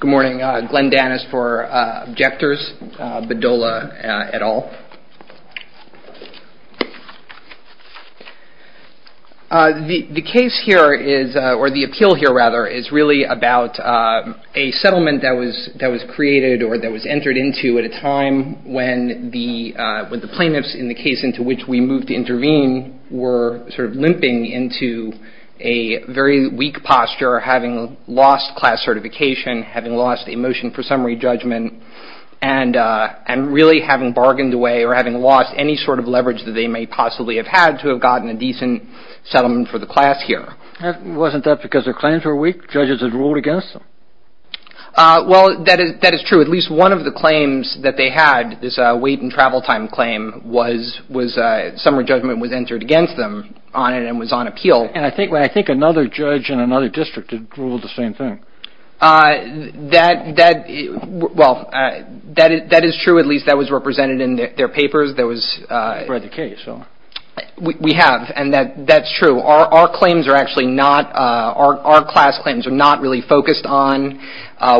Good morning, Glenn Dannis for Objectors, Bedolla et al. The case here is, or the appeal here rather, is really about a settlement that was created or that was entered into at a time when the plaintiffs in the case into which we moved to intervene were sort of limping into a very weak posture having lost class certification, having lost a motion for summary judgment, and really having bargained away or having lost any sort of leverage that they may possibly have had to have gotten a decent settlement for the class here. Wasn't that because their claims were weak? Judges had ruled against them? Well, that is true. At least one of the claims that they had, this wait and travel time claim, was summary judgment was entered against them on it and was on appeal. And I think another judge in another district ruled the same thing. That is true. At least that was represented in their papers. You've read the case. We have, and that's true. Our claims are actually not, our class claims are not really focused on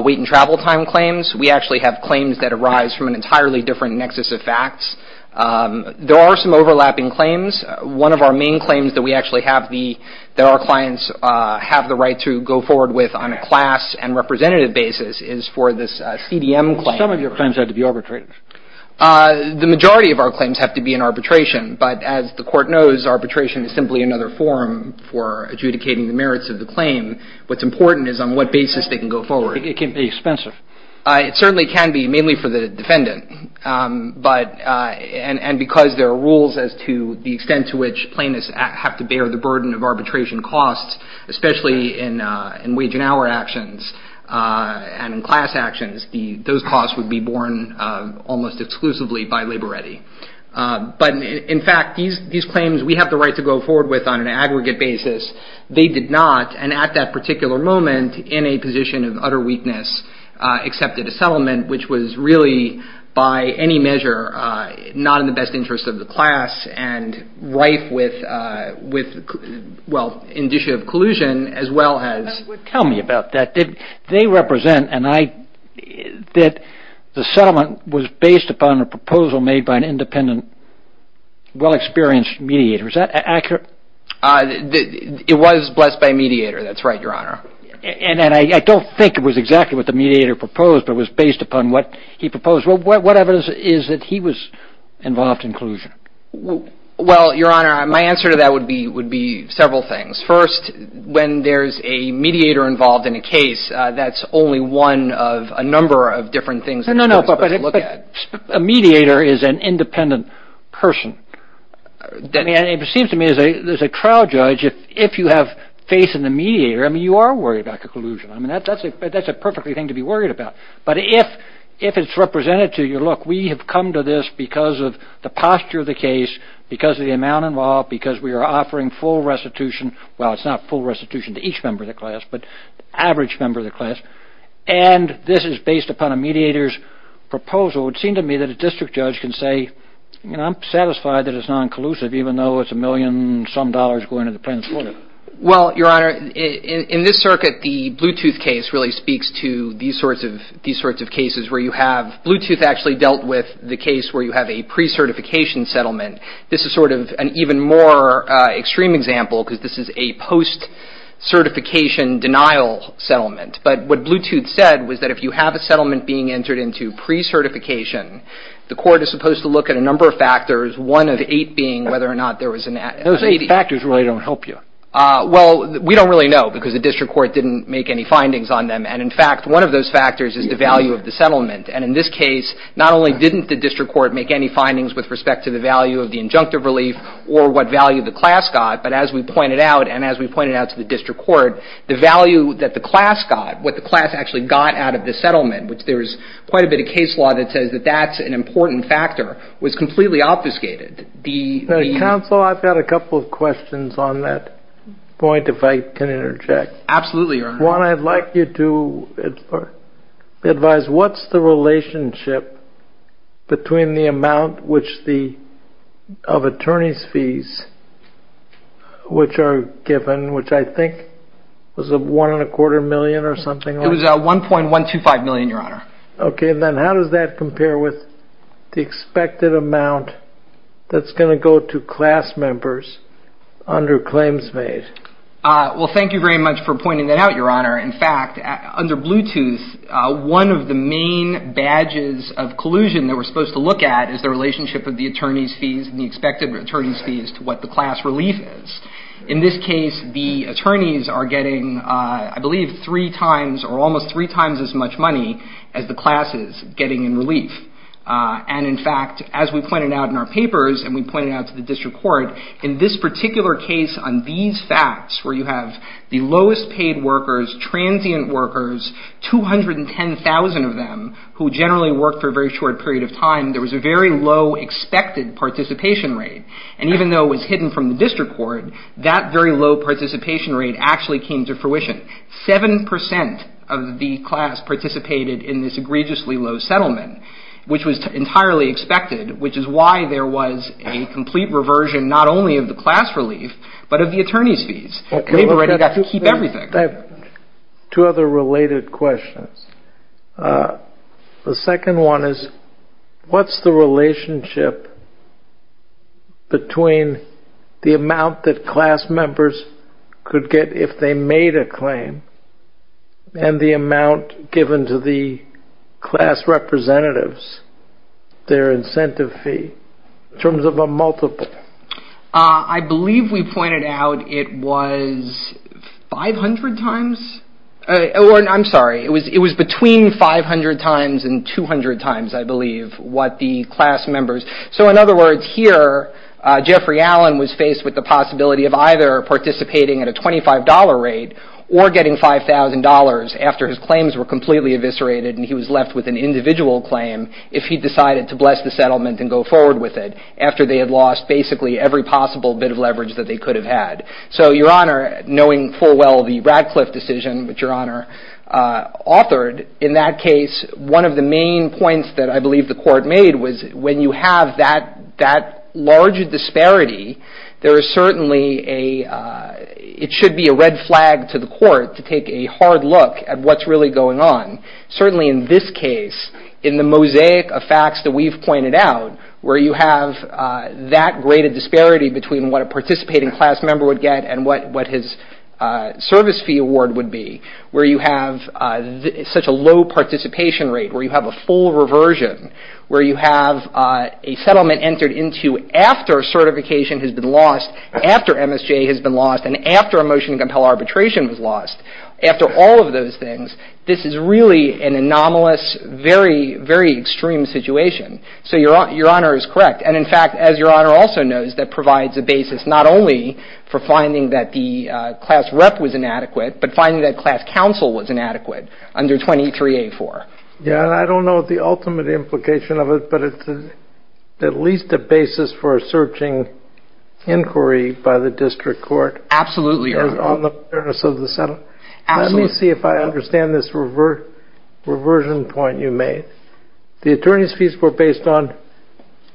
wait and travel time claims. We actually have claims that arise from an entirely different nexus of facts. There are some overlapping claims. One of our main claims that we actually have the, that our clients have the right to go forward with on a class and representative basis is for this CDM claim. Some of your claims have to be arbitrated. The majority of our claims have to be in arbitration, but as the Court knows, arbitration is simply another form for adjudicating the merits of the claim. What's important is on what basis they can go forward. It can be expensive. It certainly can be, mainly for the defendant. But, and because there are rules as to the extent to which plaintiffs have to bear the burden of arbitration costs, especially in wage and hour actions and in class actions, those costs would be borne almost exclusively by labor ready. But in fact, these claims we have the right to go forward with on an aggregate basis. They did not, and at that particular moment in a position of utter weakness, accepted a settlement, which was really by any measure not in the best interest of the class and rife with, well, indicia of collusion as well as. Tell me about that. They represent, and I, that the settlement was based upon a proposal made by an independent, well experienced mediator. Is that accurate? It was blessed by a mediator. That's right, Your Honor. And I don't think it was exactly what the mediator proposed, but it was based upon what he proposed. Well, what evidence is that he was involved in collusion? Well, Your Honor, my answer to that would be several things. First, when there's a mediator involved in a case, that's only one of a number of different things. No, no, but a mediator is an independent person. It seems to me as a trial judge, if you have faith in the mediator, I mean, you are worried about collusion. I mean, that's a perfectly thing to be worried about. But if it's represented to you, look, we have come to this because of the posture of the case, because of the amount involved, because we are offering full restitution. Well, it's not full restitution to each member of the class, but average member of the class. And this is based upon a mediator's proposal. So it would seem to me that a district judge can say, you know, I'm satisfied that it's non-collusive, even though it's a million-some dollars going to the principal. Well, Your Honor, in this circuit, the Bluetooth case really speaks to these sorts of cases where you have Bluetooth actually dealt with the case where you have a pre-certification settlement. This is sort of an even more extreme example because this is a post-certification denial settlement. But what Bluetooth said was that if you have a settlement being entered into pre-certification, the court is supposed to look at a number of factors, one of eight being whether or not there was an ad. Those eight factors really don't help you. Well, we don't really know because the district court didn't make any findings on them. And, in fact, one of those factors is the value of the settlement. And in this case, not only didn't the district court make any findings with respect to the value of the injunctive relief or what value the class got, but as we pointed out and as we pointed out to the district court, the value that the class got, what the class actually got out of the settlement, which there's quite a bit of case law that says that that's an important factor, was completely obfuscated. Counsel, I've got a couple of questions on that point if I can interject. Absolutely, Your Honor. One, I'd like you to advise what's the relationship between the amount of attorney's fees which are given, which I think was $1.25 million or something like that. It was $1.125 million, Your Honor. Okay. Then how does that compare with the expected amount that's going to go to class members under claims made? Well, thank you very much for pointing that out, Your Honor. In fact, under Bluetooth, one of the main badges of collusion that we're supposed to look at is the relationship of the attorney's fees and the expected attorney's fees to what the class relief is. In this case, the attorneys are getting, I believe, three times or almost three times as much money as the class is getting in relief. And in fact, as we pointed out in our papers and we pointed out to the district court, in this particular case on these facts where you have the lowest paid workers, transient workers, 210,000 of them who generally work for a very short period of time, there was a very low expected participation rate. And even though it was hidden from the district court, that very low participation rate actually came to fruition. Seven percent of the class participated in this egregiously low settlement, which was entirely expected, which is why there was a complete reversion not only of the class relief but of the attorney's fees. They've already got to keep everything. I have two other related questions. The second one is what's the relationship between the amount that class members could get if they made a claim and the amount given to the class representatives, their incentive fee, in terms of a multiple? I believe we pointed out it was 500 times. I'm sorry. It was between 500 times and 200 times, I believe, what the class members. So in other words, here Jeffrey Allen was faced with the possibility of either participating at a $25 rate or getting $5,000 after his claims were completely eviscerated and he was left with an individual claim if he decided to bless the settlement and go forward with it after they had lost basically every possible bit of leverage that they could have had. So, Your Honor, knowing full well the Radcliffe decision, which Your Honor authored, in that case one of the main points that I believe the court made was when you have that large disparity, there is certainly a, it should be a red flag to the court to take a hard look at what's really going on. Certainly in this case, in the mosaic of facts that we've pointed out, where you have that great a disparity between what a participating class member would get and what his service fee award would be, where you have such a low participation rate, where you have a full reversion, where you have a settlement entered into after certification has been lost, after MSJ has been lost, and after a motion to compel arbitration was lost, after all of those things, this is really an anomalous, very, very extreme situation. So Your Honor is correct. And, in fact, as Your Honor also knows, that provides a basis not only for finding that the class rep was inadequate, but finding that class counsel was inadequate under 23A4. Yeah, and I don't know the ultimate implication of it, but it's at least a basis for a searching inquiry by the district court. Absolutely, Your Honor. Let me see if I understand this reversion point you made. The attorney's fees were based on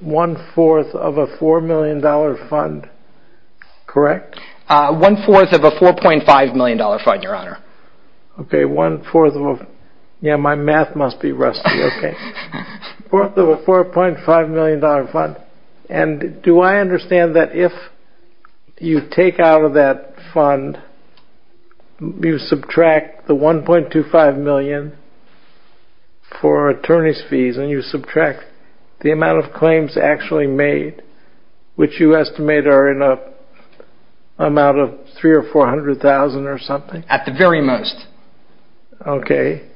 one-fourth of a $4 million fund, correct? One-fourth of a $4.5 million fund, Your Honor. Okay, one-fourth of a, yeah, my math must be rusty, okay. One-fourth of a $4.5 million fund. And do I understand that if you take out of that fund, you subtract the $1.25 million for attorney's fees, and you subtract the amount of claims actually made, which you estimate are in an amount of $300,000 or $400,000 or something? At the very most. Okay.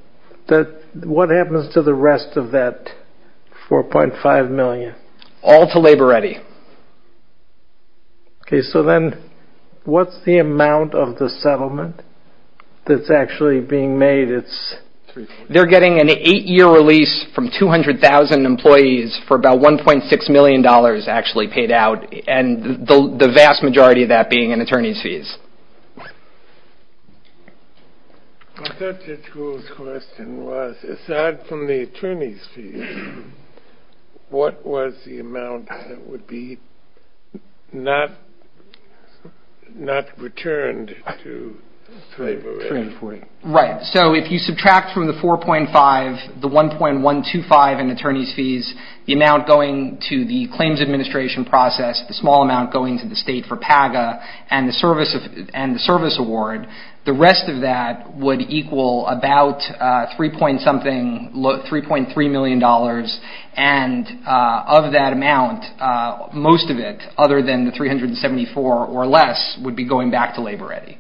What happens to the rest of that $4.5 million? All to Labor Ready. Okay, so then what's the amount of the settlement that's actually being made? They're getting an eight-year release from 200,000 employees for about $1.6 million actually paid out, and the vast majority of that being in attorney's fees. I thought your school's question was, aside from the attorney's fees, what was the amount that would be not returned to Labor Ready? Right, so if you subtract from the $4.5, the $1.125 in attorney's fees, the amount going to the claims administration process, the small amount going to the state for PAGA, and the service award, the rest of that would equal about $3.3 million, and of that amount, most of it, other than the $374 or less, would be going back to Labor Ready,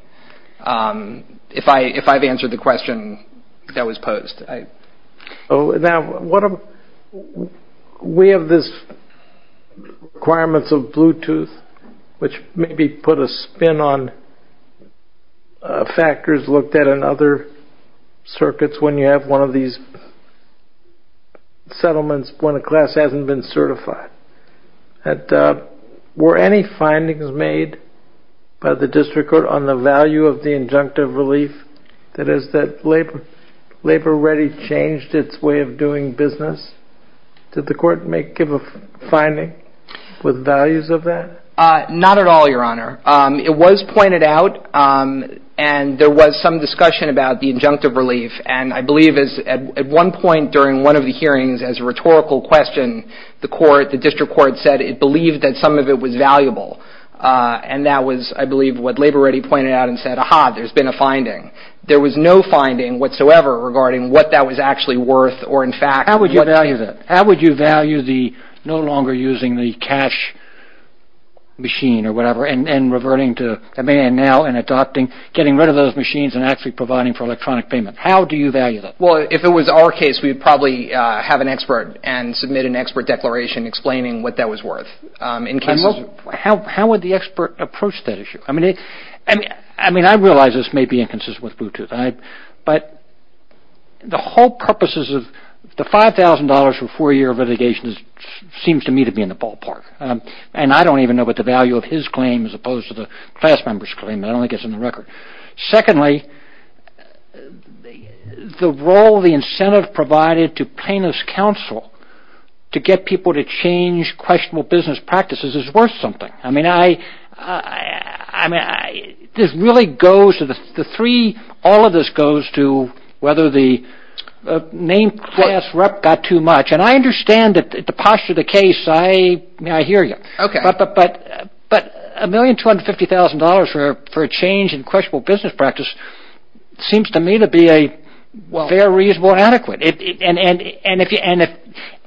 if I've answered the question that was posed. Now, we have this requirements of Bluetooth, which maybe put a spin on factors looked at in other circuits when you have one of these settlements when a class hasn't been certified. Were any findings made by the district court on the value of the injunctive relief, that is that Labor Ready changed its way of doing business? Did the court give a finding with values of that? Not at all, Your Honor. It was pointed out, and there was some discussion about the injunctive relief, and I believe at one point during one of the hearings, as a rhetorical question, the district court said it believed that some of it was valuable, and that was, I believe, what Labor Ready pointed out and said, aha, there's been a finding. There was no finding whatsoever regarding what that was actually worth, or in fact, How would you value that? How would you value the no longer using the cash machine, or whatever, and reverting to a man now and adopting getting rid of those machines and actually providing for electronic payment? How do you value that? Well, if it was our case, we'd probably have an expert and submit an expert declaration explaining what that was worth. How would the expert approach that issue? I realize this may be inconsistent with Bluetooth, but the whole purposes of the $5,000 for four-year litigation seems to me to be in the ballpark, and I don't even know what the value of his claim as opposed to the class member's claim. I don't think it's in the record. Secondly, the role the incentive provided to plaintiff's counsel to get people to change questionable business practices is worth something. I mean, this really goes to the three. All of this goes to whether the name class rep got too much, and I understand the posture of the case. May I hear you? Okay. But $1,250,000 for a change in questionable business practice seems to me to be a very reasonable and adequate. And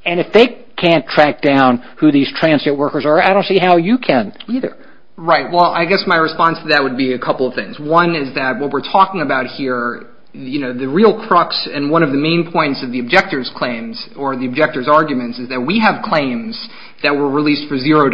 if they can't track down who these transient workers are, I don't see how you can either. Right. Well, I guess my response to that would be a couple of things. One is that what we're talking about here, the real crux and one of the main points of the objector's claims or the objector's arguments is that we have claims that were released for $0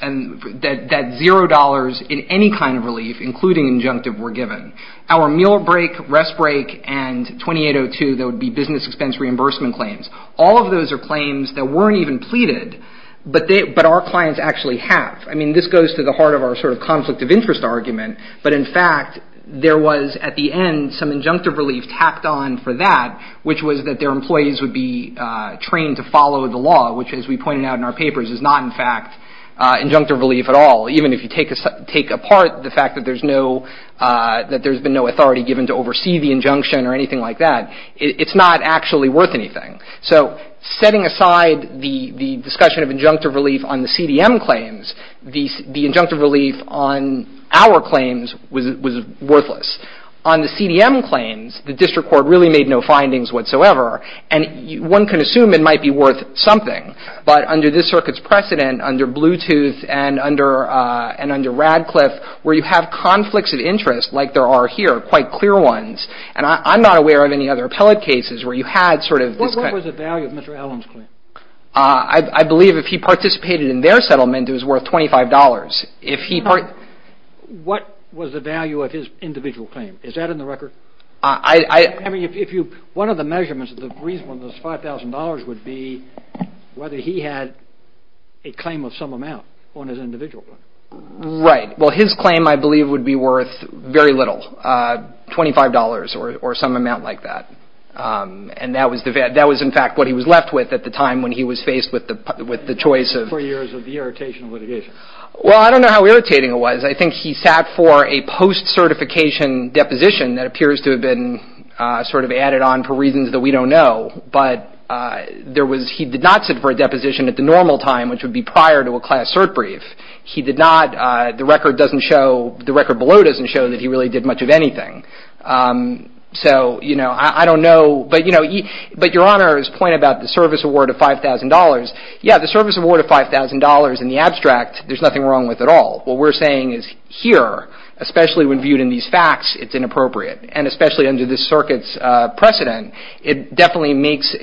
and that $0 in any kind of relief, including injunctive, were given. Our meal break, rest break, and 2802, that would be business expense reimbursement claims, all of those are claims that weren't even pleaded, but our clients actually have. I mean, this goes to the heart of our sort of conflict of interest argument. But, in fact, there was at the end some injunctive relief tacked on for that, which was that their employees would be trained to follow the law, which, as we pointed out in our papers, is not, in fact, injunctive relief at all, even if you take apart the fact that there's no – that there's been no authority given to oversee the injunction or anything like that. It's not actually worth anything. So setting aside the discussion of injunctive relief on the CDM claims, the injunctive relief on our claims was worthless. On the CDM claims, the district court really made no findings whatsoever, and one can assume it might be worth something. But under this circuit's precedent, under Bluetooth and under Radcliffe, where you have conflicts of interest like there are here, quite clear ones, and I'm not aware of any other appellate cases where you had sort of this kind of – What was the value of Mr. Allen's claim? I believe if he participated in their settlement, it was worth $25. If he – What was the value of his individual claim? Is that in the record? I – I mean, if you – would be whether he had a claim of some amount on his individual claim. Right. Well, his claim, I believe, would be worth very little, $25 or some amount like that. And that was, in fact, what he was left with at the time when he was faced with the choice of – Four years of the irritation litigation. Well, I don't know how irritating it was. I think he sat for a post-certification deposition that appears to have been sort of added on for reasons that we don't know. But there was – he did not sit for a deposition at the normal time, which would be prior to a class cert brief. He did not – the record doesn't show – the record below doesn't show that he really did much of anything. So, you know, I don't know. But, you know, but Your Honor's point about the service award of $5,000, yeah, the service award of $5,000 in the abstract, there's nothing wrong with at all. What we're saying is here, especially when viewed in these facts, it's inappropriate, and especially under this circuit's precedent. It definitely makes a –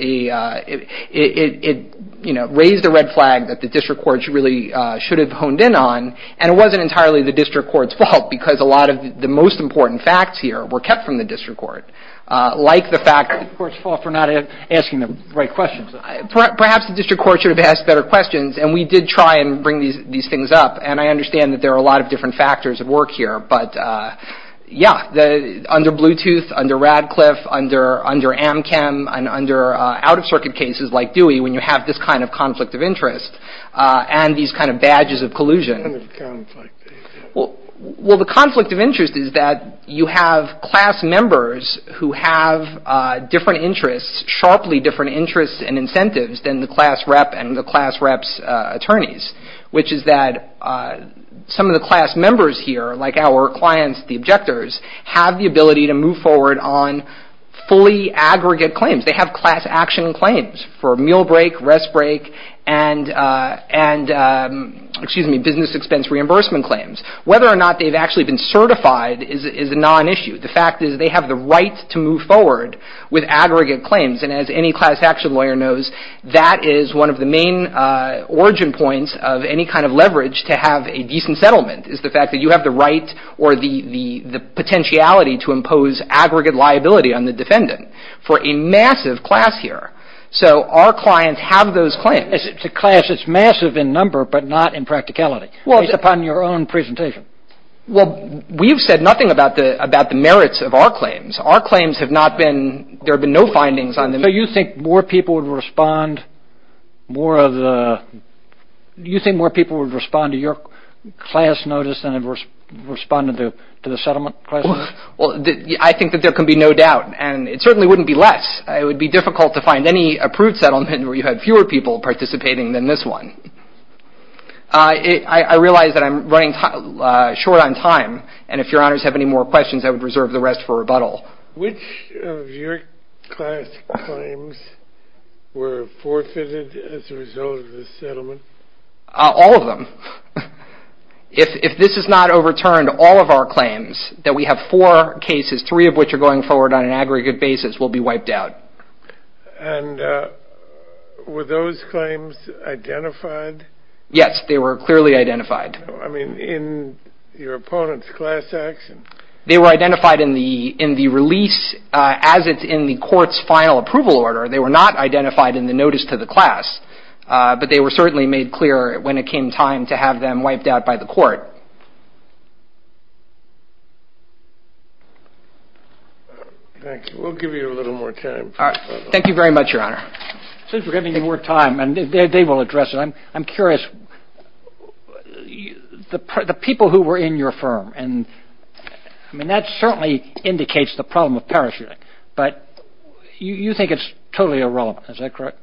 it, you know, raised a red flag that the district courts really should have honed in on, and it wasn't entirely the district court's fault because a lot of the most important facts here were kept from the district court. Like the fact – The court's fault for not asking the right questions. Perhaps the district court should have asked better questions, and we did try and bring these things up, and I understand that there are a lot of different factors at work here. But, yeah, under Bluetooth, under Radcliffe, under AmChem, and under out-of-circuit cases like Dewey, when you have this kind of conflict of interest, and these kind of badges of collusion. What kind of conflict? Well, the conflict of interest is that you have class members who have different interests, sharply different interests and incentives, than the class rep and the class rep's attorneys, which is that some of the class members here, like our clients, the objectors, have the ability to move forward on fully aggregate claims. They have class action claims for meal break, rest break, and business expense reimbursement claims. Whether or not they've actually been certified is a non-issue. The fact is they have the right to move forward with aggregate claims, and as any class action lawyer knows, that is one of the main origin points of any kind of leverage to have a decent settlement is the fact that you have the right or the potentiality to impose aggregate liability on the defendant for a massive class here. So our clients have those claims. It's a class that's massive in number but not in practicality, based upon your own presentation. Well, we've said nothing about the merits of our claims. Our claims have not been, there have been no findings on them. So you think more people would respond to your class notice than would respond to the settlement? Well, I think that there can be no doubt, and it certainly wouldn't be less. It would be difficult to find any approved settlement where you have fewer people participating than this one. I realize that I'm running short on time, and if your honors have any more questions, I would reserve the rest for rebuttal. Which of your class claims were forfeited as a result of the settlement? All of them. If this is not overturned, all of our claims, that we have four cases, three of which are going forward on an aggregate basis, will be wiped out. And were those claims identified? Yes, they were clearly identified. I mean, in your opponent's class action? They were identified in the release as it's in the court's final approval order. They were not identified in the notice to the class, but they were certainly made clear when it came time to have them wiped out by the court. Thank you. We'll give you a little more time. All right. Thank you very much, Your Honor. Since we're giving you more time, and they will address it, I'm curious, the people who were in your firm, and that certainly indicates the problem of parachuting, but you think it's totally irrelevant. Is that correct?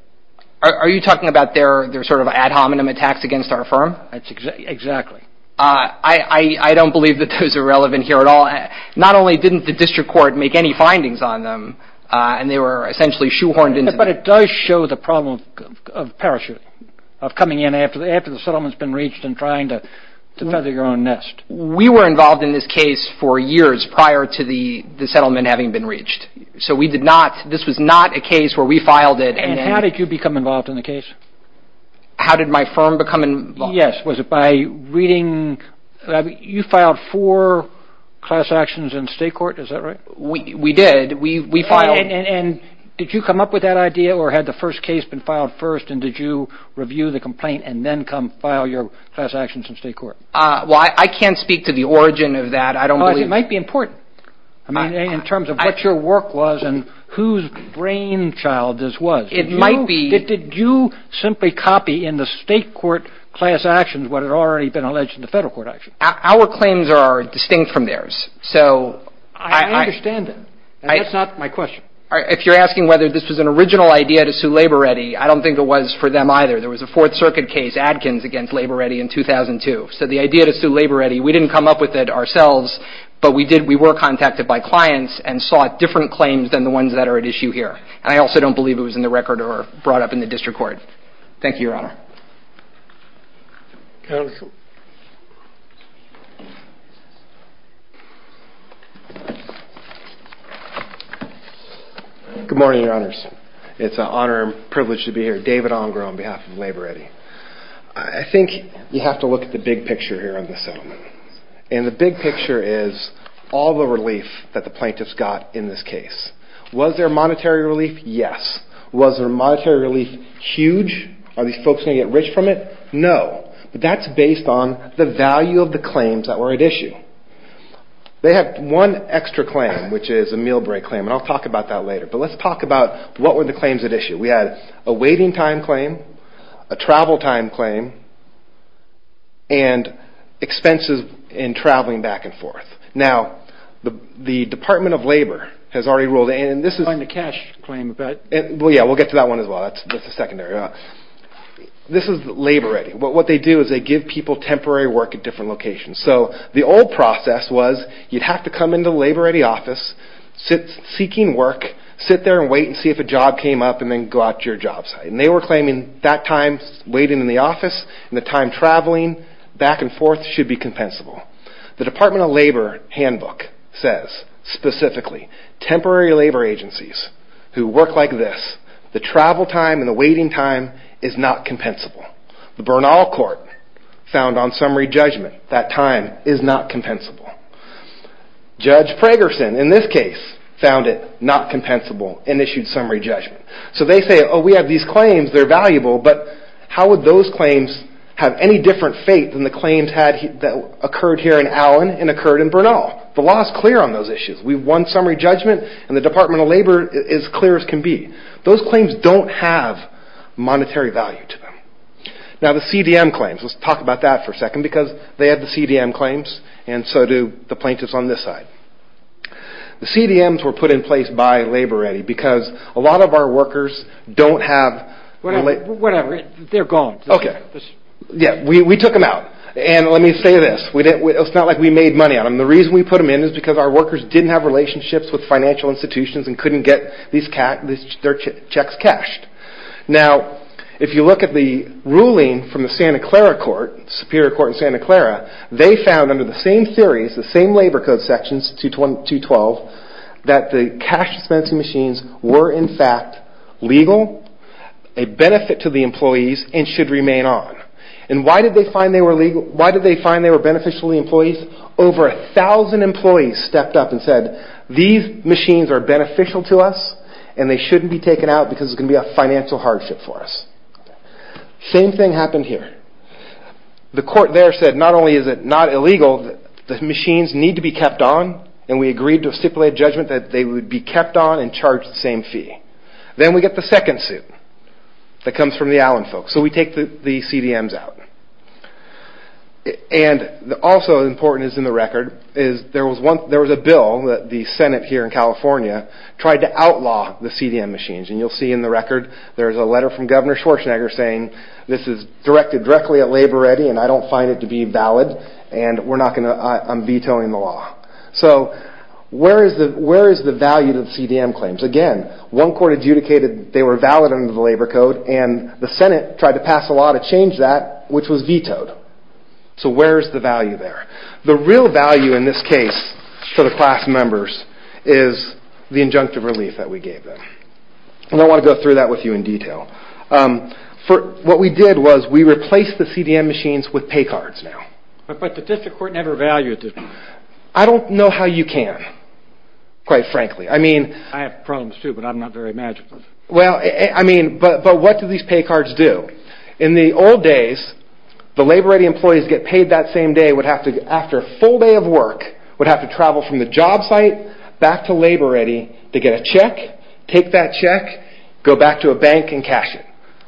Are you talking about their sort of ad hominem attacks against our firm? Exactly. I don't believe that those are relevant here at all. Not only didn't the district court make any findings on them, and they were essentially shoehorned into that. But it does show the problem of parachuting, of coming in after the settlement's been reached and trying to feather your own nest. We were involved in this case for years prior to the settlement having been reached. So we did not – this was not a case where we filed it. And how did you become involved in the case? How did my firm become involved? Yes. Was it by reading – you filed four class actions in state court. Is that right? We did. And did you come up with that idea, or had the first case been filed first, and did you review the complaint and then come file your class actions in state court? Well, I can't speak to the origin of that. It might be important in terms of what your work was and whose brainchild this was. It might be. Did you simply copy in the state court class actions what had already been alleged in the federal court actions? Our claims are distinct from theirs. I understand that. That's not my question. If you're asking whether this was an original idea to sue LaborReady, I don't think it was for them either. There was a Fourth Circuit case, Adkins, against LaborReady in 2002. So the idea to sue LaborReady, we didn't come up with it ourselves, but we were contacted by clients and sought different claims than the ones that are at issue here. And I also don't believe it was in the record or brought up in the district court. Thank you, Your Honor. Good morning, Your Honors. It's an honor and privilege to be here. David Ongaro on behalf of LaborReady. I think you have to look at the big picture here on this settlement. And the big picture is all the relief that the plaintiffs got in this case. Was there monetary relief? Yes. Was their monetary relief huge? Are these folks going to get rich from it? No. But that's based on the value of the claims that were at issue. They have one extra claim, which is a meal break claim. And I'll talk about that later. But let's talk about what were the claims at issue. We had a waiting time claim, a travel time claim, and expenses in traveling back and forth. Now, the Department of Labor has already ruled, and this is... And the cash claim about... Well, yeah, we'll get to that one as well. That's the secondary. This is LaborReady. What they do is they give people temporary work at different locations. So the old process was you'd have to come into the LaborReady office, seeking work, sit there and wait and see if a job came up, and then go out to your job site. And they were claiming that time waiting in the office and the time traveling back and forth should be compensable. The Department of Labor handbook says, specifically, temporary labor agencies who work like this, the travel time and the waiting time is not compensable. The Bernal Court found on summary judgment that time is not compensable. Judge Pragerson, in this case, found it not compensable and issued summary judgment. So they say, oh, we have these claims. They're valuable. But how would those claims have any different fate than the claims that occurred here in Allen and occurred in Bernal? The law is clear on those issues. We've won summary judgment, and the Department of Labor is as clear as can be. Those claims don't have monetary value to them. Now, the CDM claims. Let's talk about that for a second because they had the CDM claims, and so do the plaintiffs on this side. The CDMs were put in place by LaborReady because a lot of our workers don't have – Whatever. They're gone. Okay. Yeah. We took them out. And let me say this. It's not like we made money on them. The reason we put them in is because our workers didn't have relationships with financial institutions and couldn't get their checks cashed. Now, if you look at the ruling from the Santa Clara court, Superior Court in Santa Clara, they found under the same theories, the same labor code sections, 212, that the cash dispensing machines were, in fact, legal, a benefit to the employees, and should remain on. And why did they find they were legal? Why did they find they were beneficial to the employees? Over a thousand employees stepped up and said, these machines are beneficial to us and they shouldn't be taken out because it's going to be a financial hardship for us. Same thing happened here. The court there said, not only is it not illegal, the machines need to be kept on, and we agreed to a stipulated judgment that they would be kept on and charged the same fee. Then we get the second suit that comes from the Allen folks. So we take the CDMs out. And also important is in the record, there was a bill that the Senate here in California tried to outlaw the CDM machines. And you'll see in the record there's a letter from Governor Schwarzenegger saying, this is directed directly at LaborReady and I don't find it to be valid, and I'm vetoing the law. So where is the value to the CDM claims? Again, one court adjudicated they were valid under the labor code, and the Senate tried to pass a law to change that, which was vetoed. So where is the value there? The real value in this case for the class members is the injunctive relief that we gave them. And I want to go through that with you in detail. What we did was we replaced the CDM machines with pay cards now. But the district court never valued it. I don't know how you can, quite frankly. I have problems too, but I'm not very magical. Well, I mean, but what do these pay cards do? In the old days, the LaborReady employees get paid that same day, would have to, after a full day of work, would have to travel from the job site back to LaborReady to get a check, take that check, go back to a bank and cash it.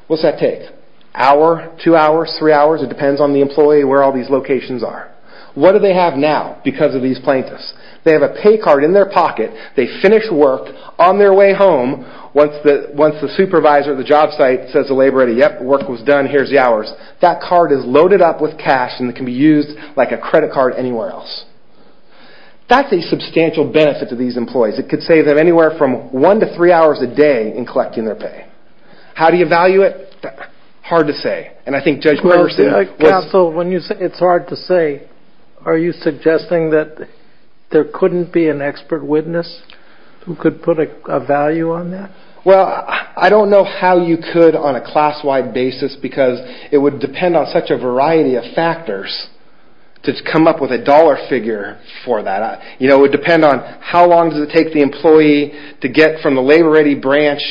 What's that take? Hour? Two hours? Three hours? It depends on the employee and where all these locations are. What do they have now because of these plaintiffs? They have a pay card in their pocket, they finish work on their way home once the supervisor at the job site says to LaborReady, yep, work was done, here's the hours. That card is loaded up with cash and it can be used like a credit card anywhere else. That's a substantial benefit to these employees. It could save them anywhere from one to three hours a day in collecting their pay. How do you value it? Hard to say. And I think Judge Mercer. Counsel, when you say it's hard to say, are you suggesting that there couldn't be an expert witness who could put a value on that? Well, I don't know how you could on a class-wide basis because it would depend on such a variety of factors to come up with a dollar figure for that. It would depend on how long does it take the employee to get from the LaborReady branch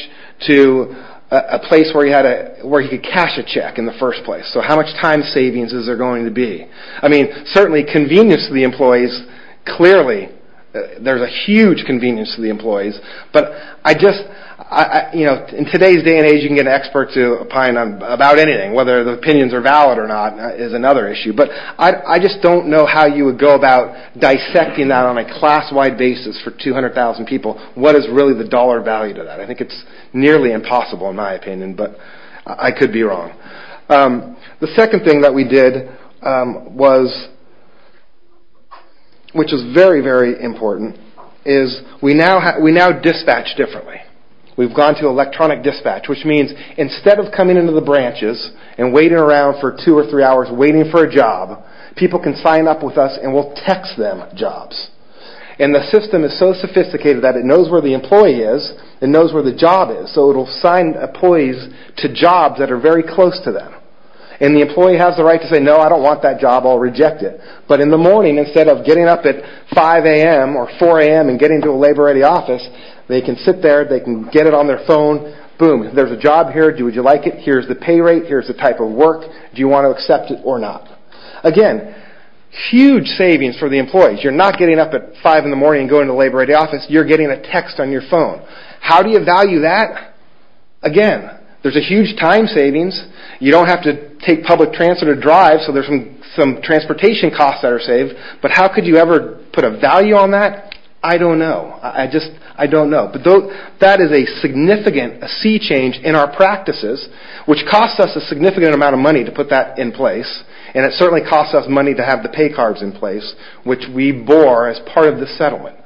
to a place where he could cash a check in the first place. So how much time savings is there going to be? I mean, certainly convenience to the employees, clearly. There's a huge convenience to the employees. But I just, you know, in today's day and age you can get an expert to opine about anything. Whether the opinions are valid or not is another issue. But I just don't know how you would go about dissecting that on a class-wide basis for 200,000 people. What is really the dollar value to that? I think it's nearly impossible in my opinion, but I could be wrong. The second thing that we did was, which is very, very important, is we now dispatch differently. We've gone to electronic dispatch, which means instead of coming into the branches and waiting around for two or three hours waiting for a job, people can sign up with us and we'll text them jobs. And the system is so sophisticated that it knows where the employee is, it knows where the job is. So it'll sign employees to jobs that are very close to them. And the employee has the right to say, no, I don't want that job, I'll reject it. But in the morning, instead of getting up at 5 a.m. or 4 a.m. and getting to a labor-ready office, they can sit there, they can get it on their phone, boom, there's a job here, would you like it? Here's the pay rate, here's the type of work, do you want to accept it or not? Again, huge savings for the employees. You're not getting up at 5 in the morning and going to a labor-ready office, you're getting a text on your phone. How do you value that? Again, there's a huge time savings, you don't have to take public transit or drive, so there's some transportation costs that are saved, but how could you ever put a value on that? I don't know, I just don't know. But that is a significant sea change in our practices, which costs us a significant amount of money to put that in place, and it certainly costs us money to have the pay cards in place, which we bore as part of the settlement.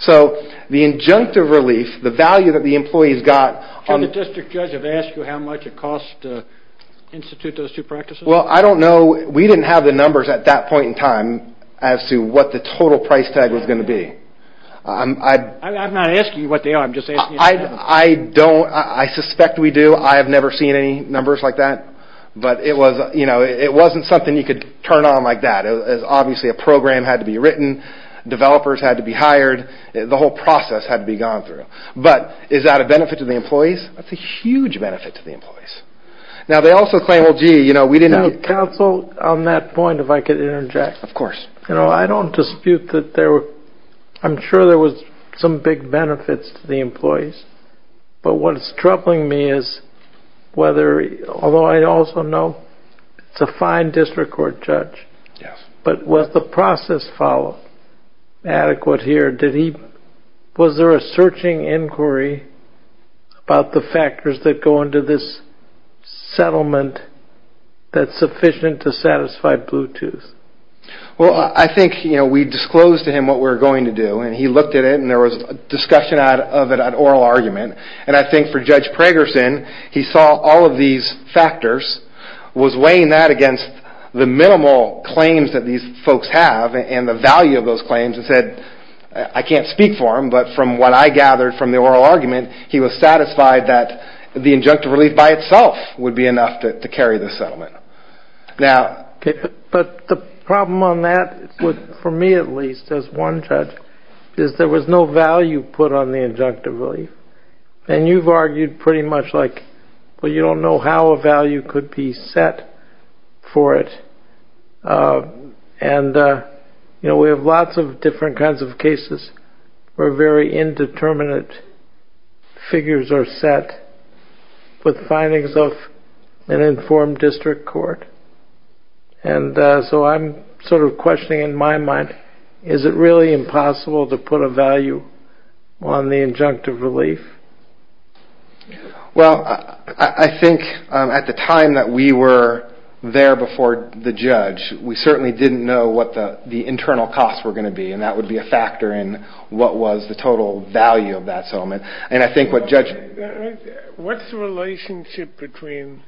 So the injunctive relief, the value that the employees got... Did the district judge ever ask you how much it costs to institute those two practices? Well, I don't know, we didn't have the numbers at that point in time as to what the total price tag was going to be. I'm not asking you what they are, I'm just asking you... I don't, I suspect we do, I have never seen any numbers like that, but it wasn't something you could turn on like that. Obviously a program had to be written, developers had to be hired, the whole process had to be gone through. But is that a benefit to the employees? That's a huge benefit to the employees. Now they also claim, well gee, we didn't have... Can you counsel on that point if I could interject? Of course. I don't dispute that there were, I'm sure there were some big benefits to the employees, but what's troubling me is whether, although I also know it's a fine district court judge, but was the process followed adequate here? Was there a searching inquiry about the factors that go into this settlement that's sufficient to satisfy Bluetooth? Well, I think we disclosed to him what we were going to do, and he looked at it and there was discussion of it at oral argument, and I think for Judge Pragerson, he saw all of these factors, was weighing that against the minimal claims that these folks have and the value of those claims and said, I can't speak for him, but from what I gathered from the oral argument, he was satisfied that the injunctive relief by itself would be enough to carry the settlement. But the problem on that, for me at least as one judge, is there was no value put on the injunctive relief. And you've argued pretty much like, well, you don't know how a value could be set for it. And we have lots of different kinds of cases where very indeterminate figures are set with findings of an informed district court. And so I'm sort of questioning in my mind, is it really impossible to put a value on the injunctive relief? Well, I think at the time that we were there before the judge, we certainly didn't know what the internal costs were going to be, and that would be a factor in what was the total value of that settlement. And I think what Judge... What's the relationship between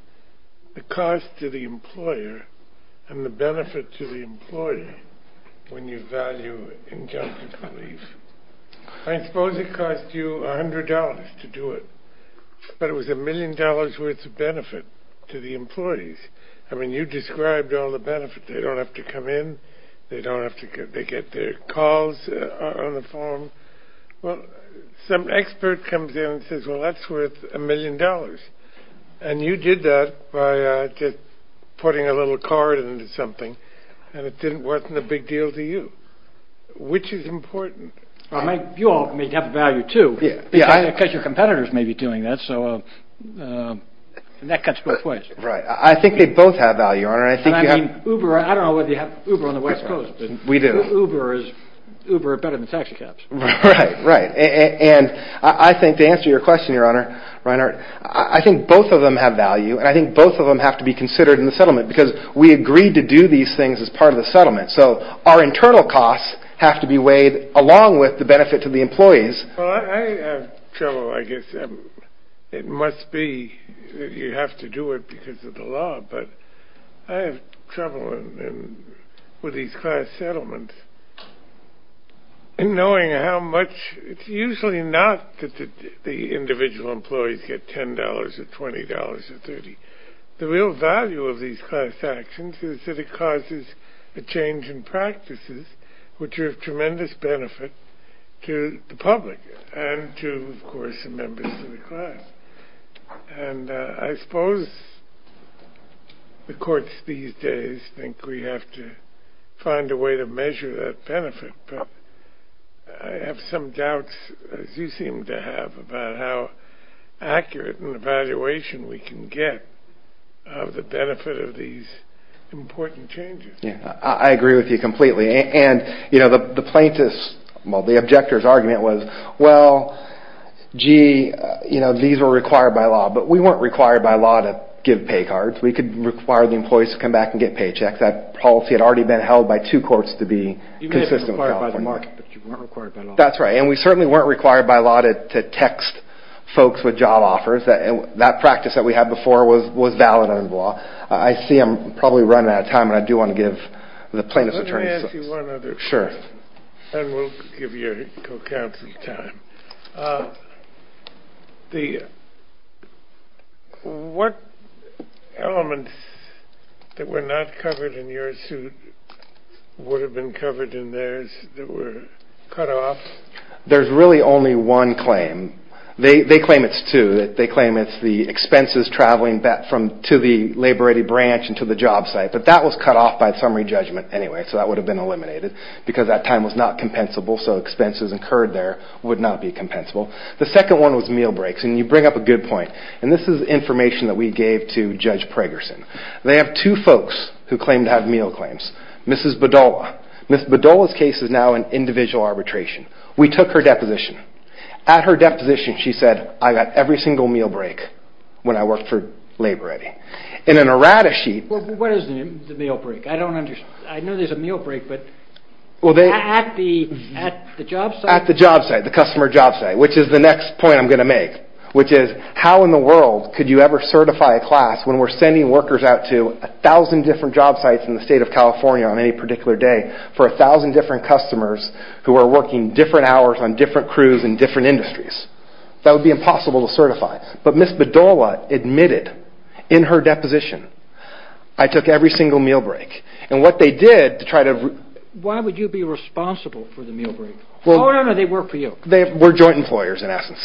the cost to the employer and the benefit to the employee when you value injunctive relief? I suppose it cost you $100 to do it, but it was a million dollars worth of benefit to the employees. I mean, you described all the benefits. They don't have to come in. They get their calls on the phone. Well, some expert comes in and says, well, that's worth a million dollars. And you did that by just putting a little card into something, and it wasn't a big deal to you, which is important. You all may have a value, too, because your competitors may be doing that, and that cuts both ways. Right. I think they both have value, Your Honor. I don't know whether you have Uber on the West Coast. We do. Uber is better than taxi cabs. Right. And I think to answer your question, Your Honor, I think both of them have value, and I think both of them have to be considered in the settlement because we agreed to do these things as part of the settlement. So our internal costs have to be weighed along with the benefit to the employees. Well, I have trouble, I guess. It must be that you have to do it because of the law, but I have trouble with these class settlements. And knowing how much, it's usually not that the individual employees get $10 or $20 or $30. The real value of these class actions is that it causes a change in practices which are of tremendous benefit to the public and to, of course, the members of the class. And I suppose the courts these days think we have to find a way to measure that benefit. But I have some doubts, as you seem to have, about how accurate an evaluation we can get of the benefit of these important changes. I agree with you completely. And the plaintiff's, well, the objector's argument was, well, gee, these were required by law. But we weren't required by law to give pay cards. We could require the employees to come back and get paychecks. That policy had already been held by two courts to be consistent with California law. You may have been required by the market, but you weren't required by law. That's right. And we certainly weren't required by law to text folks with job offers. That practice that we had before was valid under the law. I see I'm probably running out of time, but I do want to give the plaintiff's attorney a chance. Let me ask you one other question. Sure. And we'll give your co-counsel time. What elements that were not covered in your suit would have been covered in theirs that were cut off? There's really only one claim. They claim it's two. They claim it's the expenses traveling back to the labor-ready branch and to the job site. But that was cut off by summary judgment anyway, so that would have been eliminated because that time was not compensable, so expenses incurred there would not be compensable. The second one was meal breaks, and you bring up a good point. And this is information that we gave to Judge Pregerson. They have two folks who claim to have meal claims, Mrs. Bedolla. Mrs. Bedolla's case is now in individual arbitration. We took her deposition. At her deposition, she said, I got every single meal break when I worked for labor-ready. In an errata sheet— What is the meal break? I don't understand. I know there's a meal break, but at the job site? At the job site, the customer job site, which is the next point I'm going to make, which is how in the world could you ever certify a class when we're sending workers out to 1,000 different job sites in the state of California on any particular day for 1,000 different customers who are working different hours on different crews in different industries? That would be impossible to certify. But Mrs. Bedolla admitted in her deposition, I took every single meal break. And what they did to try to— Why would you be responsible for the meal break? Oh, no, no, they work for you. They were joint employers in essence.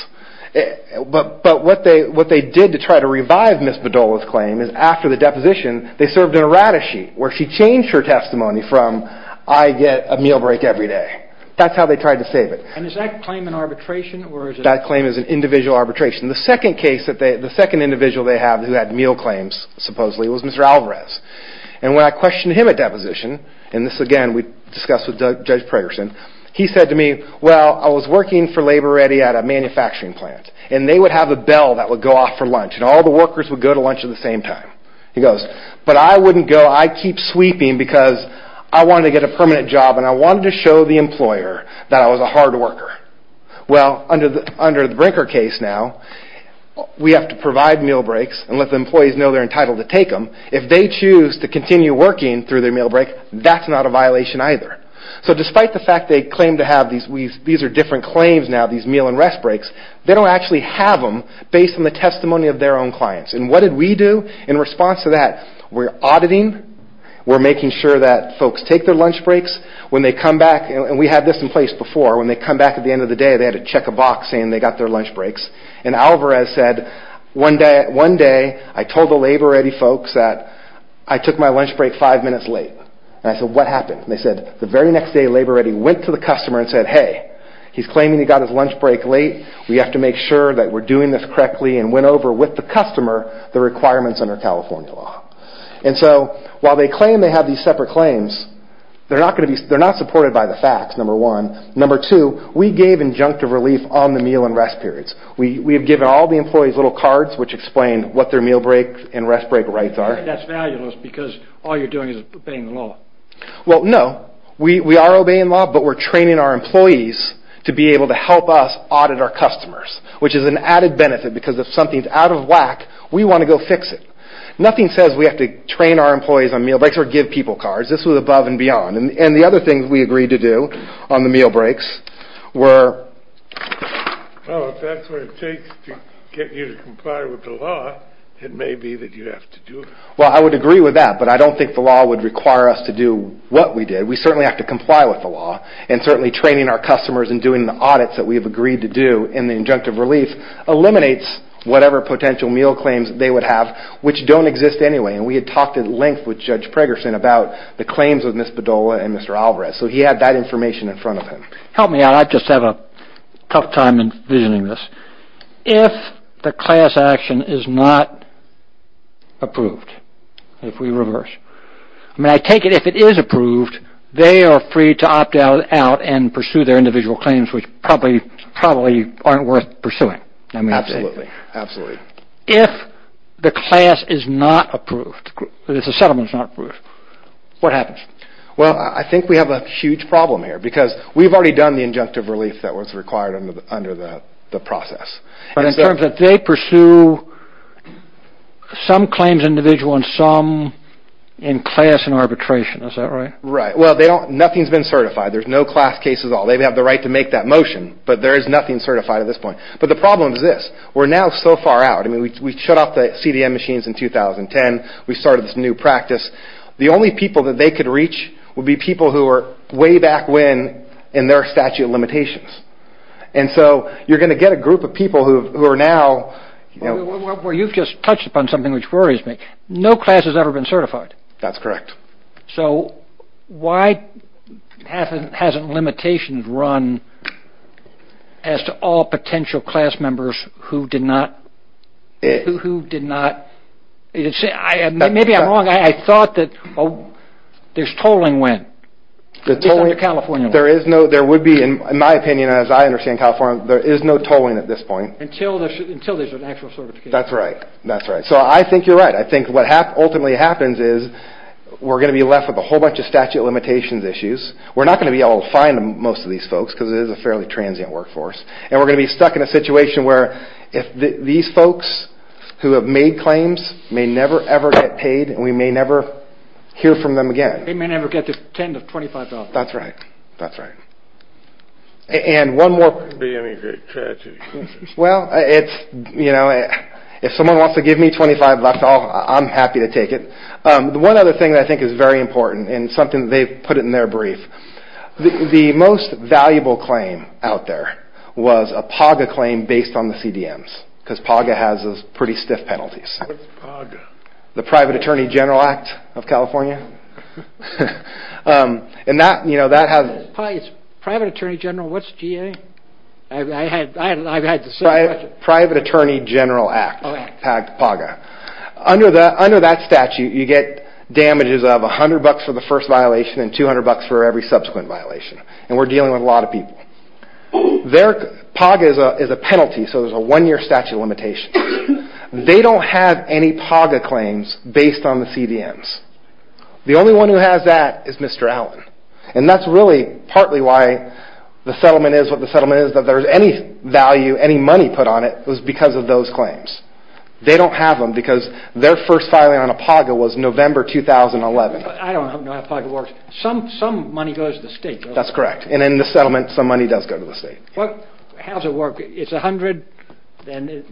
But what they did to try to revive Mrs. Bedolla's claim is after the deposition, they served an errata sheet where she changed her testimony from, I get a meal break every day. That's how they tried to save it. And is that claim an arbitration or is it— That claim is an individual arbitration. The second case that they—the second individual they have who had meal claims supposedly was Mr. Alvarez. And when I questioned him at deposition, and this again we discussed with Judge Pregerson, he said to me, well, I was working for Labor Ready at a manufacturing plant, and they would have a bell that would go off for lunch, and all the workers would go to lunch at the same time. He goes, but I wouldn't go. I'd keep sweeping because I wanted to get a permanent job, and I wanted to show the employer that I was a hard worker. Well, under the Brinker case now, we have to provide meal breaks and let the employees know they're entitled to take them. If they choose to continue working through their meal break, that's not a violation either. So despite the fact they claim to have these—these are different claims now, these meal and rest breaks, they don't actually have them based on the testimony of their own clients. And what did we do in response to that? We're auditing. We're making sure that folks take their lunch breaks. And we had this in place before. When they come back at the end of the day, they had to check a box saying they got their lunch breaks. And Alvarez said, one day I told the Labor Ready folks that I took my lunch break five minutes late. And I said, what happened? And they said, the very next day Labor Ready went to the customer and said, hey, he's claiming he got his lunch break late. We have to make sure that we're doing this correctly and went over with the customer the requirements under California law. And so while they claim they have these separate claims, they're not going to be—they're not supported by the facts, number one. Number two, we gave injunctive relief on the meal and rest periods. We have given all the employees little cards which explain what their meal break and rest break rights are. That's valueless because all you're doing is obeying the law. Well, no. We are obeying the law, but we're training our employees to be able to help us audit our customers, which is an added benefit because if something's out of whack, we want to go fix it. Nothing says we have to train our employees on meal breaks or give people cards. This was above and beyond. And the other things we agreed to do on the meal breaks were— Well, if that's what it takes to get you to comply with the law, it may be that you have to do it. Well, I would agree with that, but I don't think the law would require us to do what we did. We certainly have to comply with the law. And certainly training our customers and doing the audits that we have agreed to do in the injunctive relief eliminates whatever potential meal claims they would have, which don't exist anyway. And we had talked at length with Judge Pregerson about the claims of Ms. Padola and Mr. Alvarez, so he had that information in front of him. Help me out. I just have a tough time envisioning this. If the class action is not approved, if we reverse—I mean, I take it if it is approved, they are free to opt out and pursue their individual claims, which probably aren't worth pursuing. Absolutely. If the class is not approved, if the settlement is not approved, what happens? Well, I think we have a huge problem here because we've already done the injunctive relief that was required under the process. But in terms of they pursue some claims individual and some in class and arbitration, is that right? Right. Well, nothing's been certified. There's no class case at all. They have the right to make that motion, but there is nothing certified at this point. But the problem is this. We're now so far out. I mean, we shut off the CDM machines in 2010. We started this new practice. The only people that they could reach would be people who were way back when in their statute of limitations. And so you're going to get a group of people who are now— Well, you've just touched upon something which worries me. No class has ever been certified. That's correct. So why hasn't limitations run as to all potential class members who did not— Maybe I'm wrong. I thought that there's tolling when, at least under California law. There would be, in my opinion, as I understand California, there is no tolling at this point. Until there's an actual certification. That's right. That's right. So I think you're right. I think what ultimately happens is we're going to be left with a whole bunch of statute of limitations issues. We're not going to be able to find most of these folks because it is a fairly transient workforce. And we're going to be stuck in a situation where these folks who have made claims may never, ever get paid, and we may never hear from them again. They may never get the $10,000 to $25,000. That's right. That's right. And one more— It wouldn't be any great tragedy. Well, if someone wants to give me $25,000, I'm happy to take it. One other thing that I think is very important, and something they've put in their brief, the most valuable claim out there was a PAGA claim based on the CDMs. Because PAGA has those pretty stiff penalties. What's PAGA? The Private Attorney General Act of California. And that has— Private Attorney General, what's GA? I've had the same question. Private Attorney General Act, PAGA. Under that statute, you get damages of $100 for the first violation and $200 for every subsequent violation. And we're dealing with a lot of people. PAGA is a penalty, so there's a one-year statute of limitations. They don't have any PAGA claims based on the CDMs. The only one who has that is Mr. Allen. And that's really partly why the settlement is what the settlement is, that there's any value, any money put on it was because of those claims. They don't have them because their first filing on a PAGA was November 2011. I don't know how PAGA works. Some money goes to the state. That's correct. And in the settlement, some money does go to the state. How does it work? It's $100, then—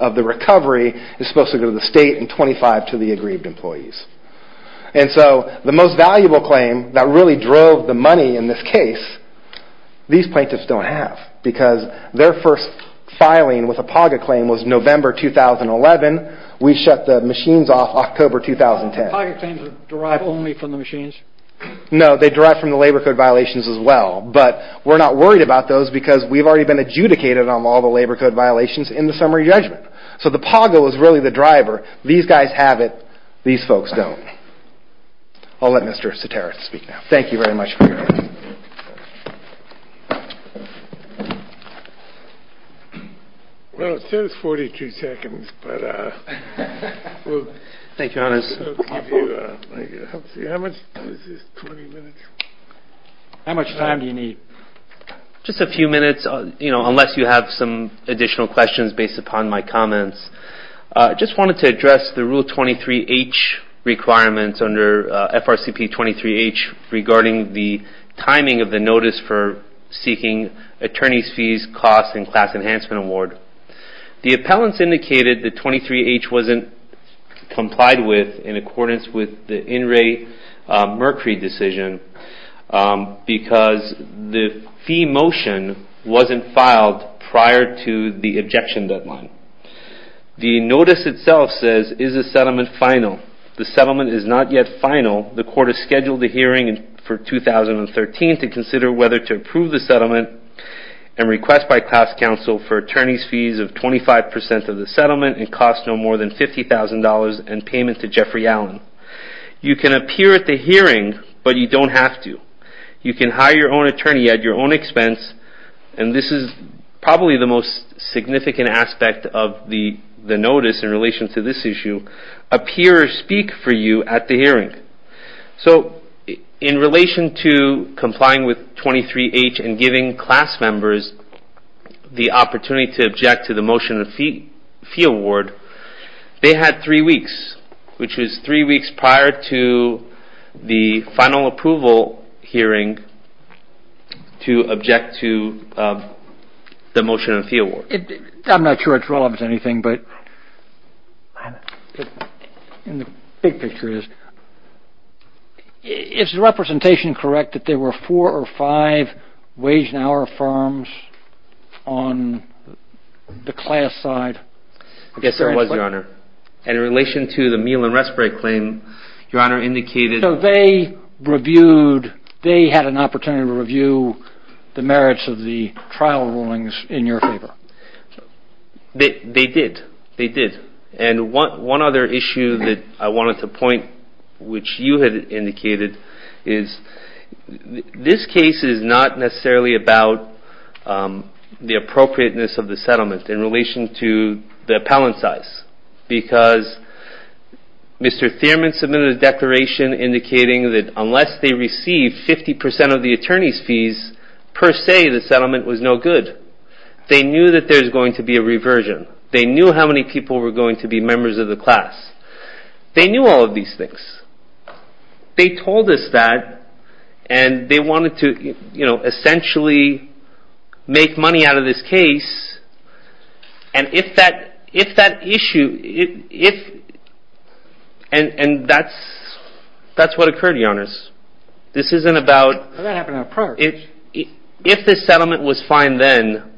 of the recovery is supposed to go to the state and $25 to the aggrieved employees. And so the most valuable claim that really drove the money in this case, these plaintiffs don't have because their first filing with a PAGA claim was November 2011. We shut the machines off October 2010. PAGA claims are derived only from the machines? No, they derive from the labor code violations as well. But we're not worried about those because we've already been adjudicated on all the labor code violations in the summary judgment. So the PAGA was really the driver. These guys have it. These folks don't. I'll let Mr. Sateros speak now. Thank you very much for your time. Well, it says 42 seconds, but— Thank you, Your Honor. How much time do you need? Just a few minutes, unless you have some additional questions based upon my comments. I just wanted to address the Rule 23H requirements under FRCP 23H regarding the timing of the notice for seeking attorney's fees, costs, and class enhancement award. The appellants indicated that 23H wasn't complied with in accordance with the in-rate Mercury decision because the fee motion wasn't filed prior to the objection deadline. The notice itself says, is the settlement final? The settlement is not yet final. The court has scheduled a hearing for 2013 to consider whether to approve the settlement and request by class counsel for attorney's fees of 25% of the settlement and costs no more than $50,000 and payment to Jeffrey Allen. You can appear at the hearing, but you don't have to. You can hire your own attorney at your own expense, and this is probably the most significant aspect of the notice in relation to this issue, appear or speak for you at the hearing. So in relation to complying with 23H and giving class members the opportunity to object to the motion of fee award, they had three weeks, which was three weeks prior to the final approval hearing to object to the motion of fee award. I'm not sure it's relevant to anything, but the big picture is, is the representation correct that there were four or five wage and hour firms on the class side? Yes, there was, Your Honor. And in relation to the meal and respite claim, Your Honor indicated... So they reviewed, they had an opportunity to review the merits of the trial rulings in your favor. They did. They did. And one other issue that I wanted to point, which you had indicated, is this case is not necessarily about the appropriateness of the settlement in relation to the appellant size, because Mr. Thierman submitted a declaration indicating that unless they receive 50% of the attorney's fees, per se, the settlement was no good. They knew that there's going to be a reversion. They knew how many people were going to be members of the class. They knew all of these things. They told us that, and they wanted to, you know, essentially make money out of this case. And if that issue... And that's what occurred, Your Honors. This isn't about... That happened in the past. If this settlement was fine then,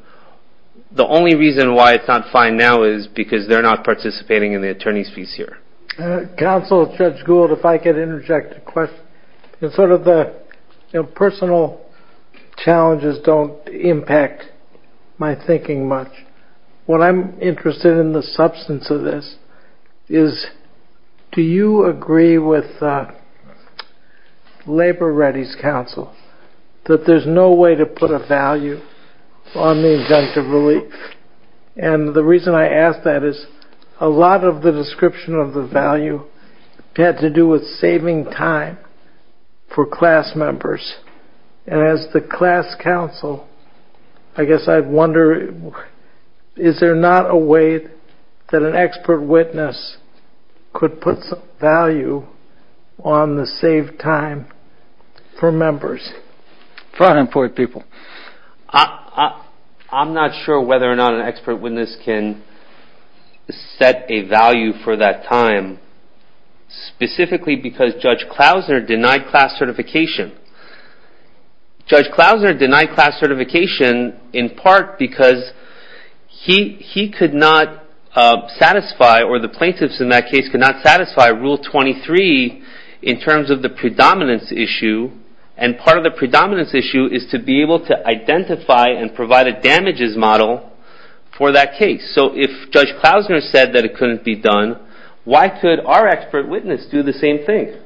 the only reason why it's not fine now is because they're not participating in the attorney's fees here. Counsel, Judge Gould, if I could interject a question. It's sort of the personal challenges don't impact my thinking much. What I'm interested in the substance of this is, do you agree with Labor Readies Counsel that there's no way to put a value on the injunctive relief? And the reason I ask that is a lot of the description of the value had to do with saving time for class members. And as the class counsel, I guess I wonder, is there not a way that an expert witness could put some value on the saved time for members? For unemployed people. I'm not sure whether or not an expert witness can set a value for that time, specifically because Judge Klausner denied class certification. Judge Klausner denied class certification in part because he could not satisfy, or the plaintiffs in that case could not satisfy Rule 23 in terms of the predominance issue. And part of the predominance issue is to be able to identify and provide a damages model for that case. So if Judge Klausner said that it couldn't be done, why could our expert witness do the same thing?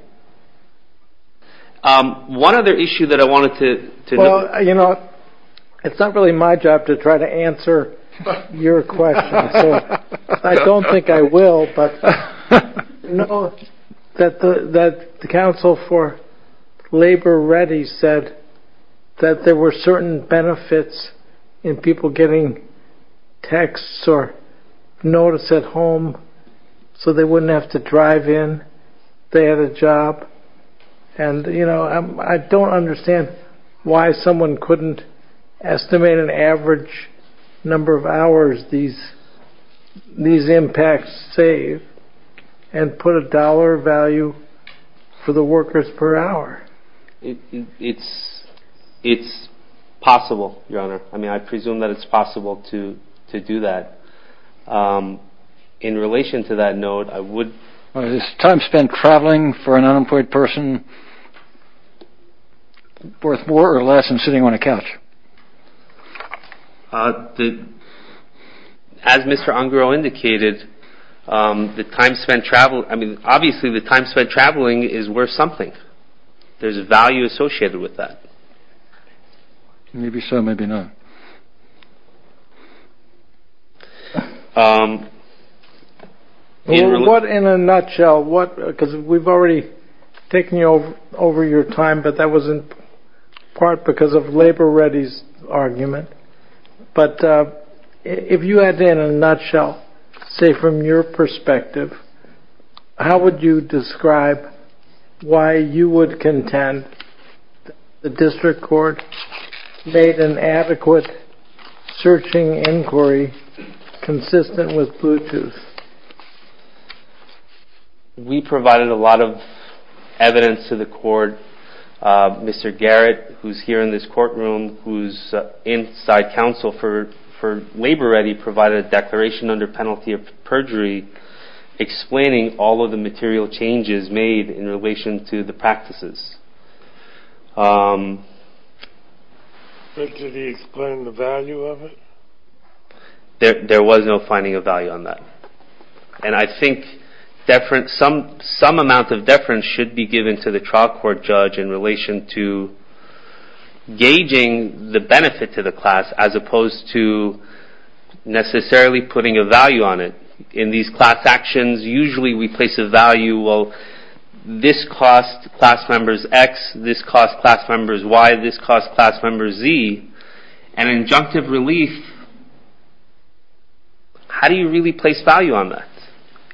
One other issue that I wanted to... Well, you know, it's not really my job to try to answer your question. I don't think I will. No, that the counsel for Labor Ready said that there were certain benefits in people getting texts or notice at home so they wouldn't have to drive in if they had a job. And, you know, I don't understand why someone couldn't estimate an average number of hours these impacts save and put a dollar value for the workers per hour. It's possible, Your Honor. I mean, I presume that it's possible to do that. In relation to that note, I would... Is time spent traveling for an unemployed person worth more or less than sitting on a couch? As Mr. Ungrow indicated, the time spent traveling... I mean, obviously, the time spent traveling is worth something. There's a value associated with that. Maybe so, maybe not. What in a nutshell, what... Because we've already taken you over your time, but that was in part because of Labor Ready's argument. But if you had to, in a nutshell, say from your perspective, how would you describe why you would contend the district court made an adequate searching inquiry consistent with Bluetooth? We provided a lot of evidence to the court. Mr. Garrett, who's here in this courtroom, who's inside counsel for Labor Ready provided a declaration under penalty of perjury explaining all of the material changes made in relation to the practices. But did he explain the value of it? There was no finding of value on that. And I think some amount of deference should be given to the trial court judge in relation to gauging the benefit to the class as opposed to necessarily putting a value on it. In these class actions, usually we place a value, well, this cost class members X, this cost class members Y, this cost class members Z. An injunctive relief, how do you really place value on that?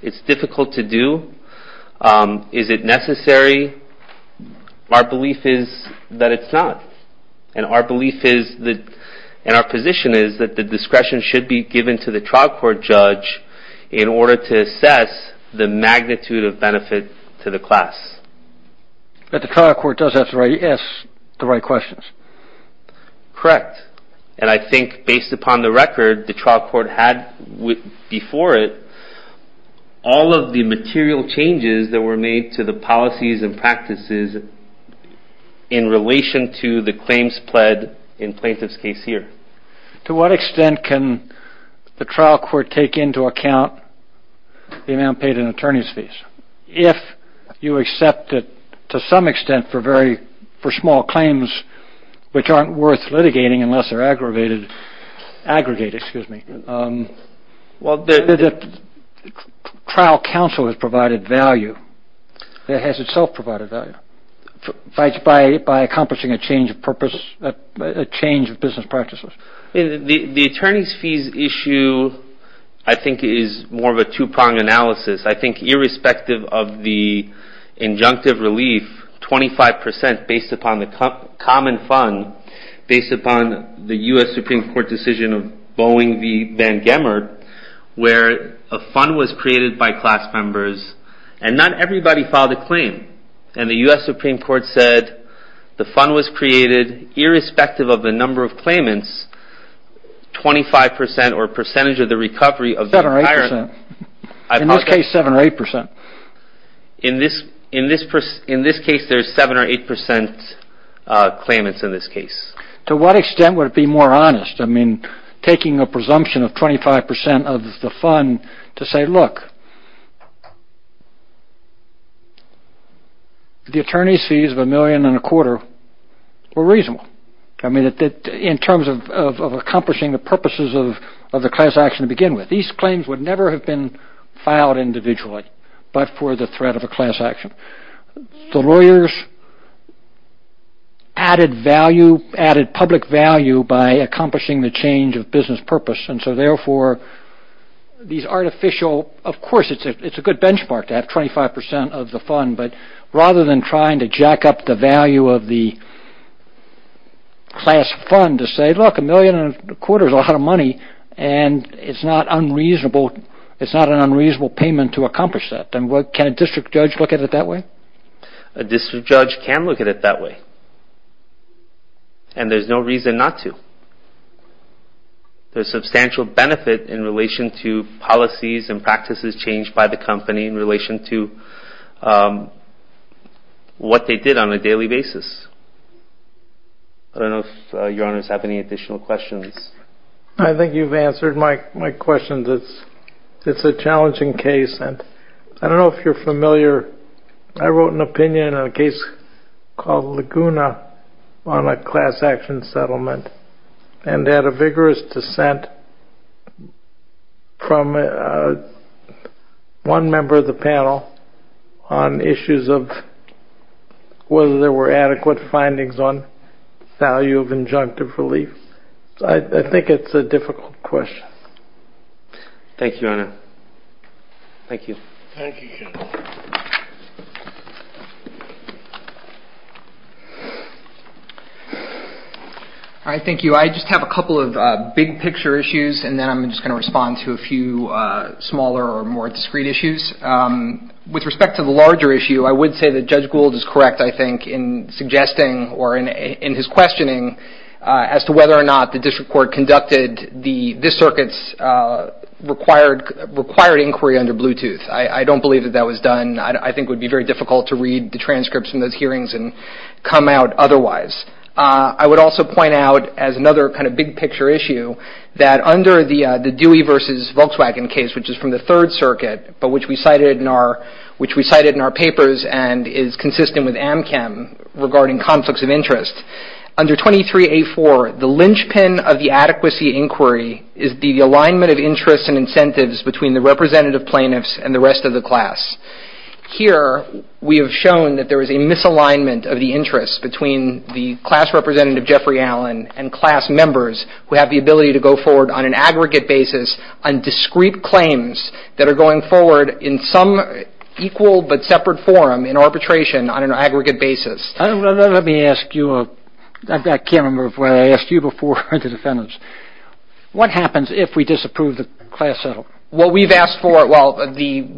It's difficult to do. Is it necessary? Our belief is that it's not. And our position is that the discretion should be given to the trial court judge in order to assess the magnitude of benefit to the class. But the trial court does have to ask the right questions. Correct. And I think based upon the record, the trial court had before it all of the material changes that were made to the policies and practices in relation to the claims pled in plaintiff's case here. To what extent can the trial court take into account the amount paid in attorney's fees? If you accept it to some extent for small claims which aren't worth litigating unless they're aggregated. The trial counsel has provided value. It has itself provided value by accomplishing a change of purpose, a change of business practices. The attorney's fees issue I think is more of a two-pronged analysis. I think irrespective of the injunctive relief, 25% based upon the common fund, based upon the U.S. Supreme Court decision of Boeing v. Van Gemmer, where a fund was created by class members and not everybody filed a claim. And the U.S. Supreme Court said the fund was created irrespective of the number of claimants, 25% or percentage of the recovery of the entire. In this case, 7% or 8%. In this case, there's 7% or 8% claimants in this case. To what extent would it be more honest? I mean, taking a presumption of 25% of the fund to say, look, the attorney's fees of a million and a quarter were reasonable. I mean, in terms of accomplishing the purposes of the class action to begin with. These claims would never have been filed individually but for the threat of a class action. The lawyers added value, added public value by accomplishing the change of business purpose. And so, therefore, these artificial, of course, it's a good benchmark to have 25% of the fund. But rather than trying to jack up the value of the class fund to say, look, a million and a quarter is a lot of money and it's not unreasonable, it's not an unreasonable payment to accomplish that. Can a district judge look at it that way? A district judge can look at it that way. And there's no reason not to. There's substantial benefit in relation to policies and practices changed by the company in relation to what they did on a daily basis. I don't know if Your Honors have any additional questions. I think you've answered my question. It's a challenging case and I don't know if you're familiar. I wrote an opinion on a case called Laguna on a class action settlement and had a vigorous dissent from one member of the panel on issues of whether there were adequate findings on value of injunctive relief. So I think it's a difficult question. Thank you, Your Honor. Thank you. All right, thank you. I just have a couple of big picture issues and then I'm just going to respond to a few smaller or more discrete issues. With respect to the larger issue, I would say that Judge Gould is correct, I think, in suggesting or in his questioning as to whether or not the district court conducted this circuit's required inquiry under Bluetooth. I don't believe that that was done. I think it would be very difficult to read the transcripts from those hearings and come out otherwise. I would also point out, as another kind of big picture issue, that under the Dewey v. Volkswagen case, which is from the Third Circuit, but which we cited in our papers and is consistent with AMCAM regarding conflicts of interest, under 23A4, the linchpin of the adequacy inquiry is the alignment of interests and incentives between the representative plaintiffs and the rest of the class. Here, we have shown that there is a misalignment of the interests between the class representative, Jeffrey Allen, and class members who have the ability to go forward on an aggregate basis on discrete claims that are going forward in some equal but separate forum, in arbitration on an aggregate basis. Let me ask you, I can't remember if I asked you before or the defendants, what happens if we disapprove the class settlement? What we've asked for, well, the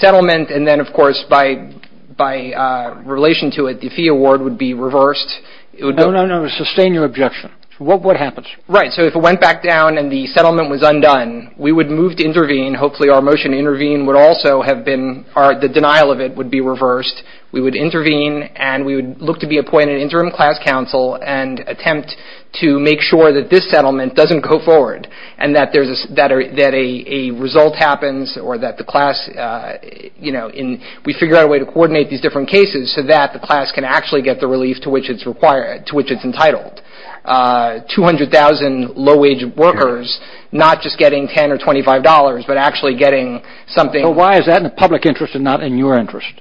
settlement and then, of course, by relation to it, the fee award would be reversed. No, no, no, sustain your objection. What happens? Right, so if it went back down and the settlement was undone, we would move to intervene. Hopefully, our motion to intervene would also have been the denial of it would be reversed. We would intervene and we would look to be appointed interim class counsel and attempt to make sure that this settlement doesn't go forward and that a result happens or that the class, you know, we figure out a way to coordinate these different cases so that the class can actually get the relief to which it's entitled. 200,000 low-wage workers not just getting $10 or $25 but actually getting something. Why is that in the public interest and not in your interest?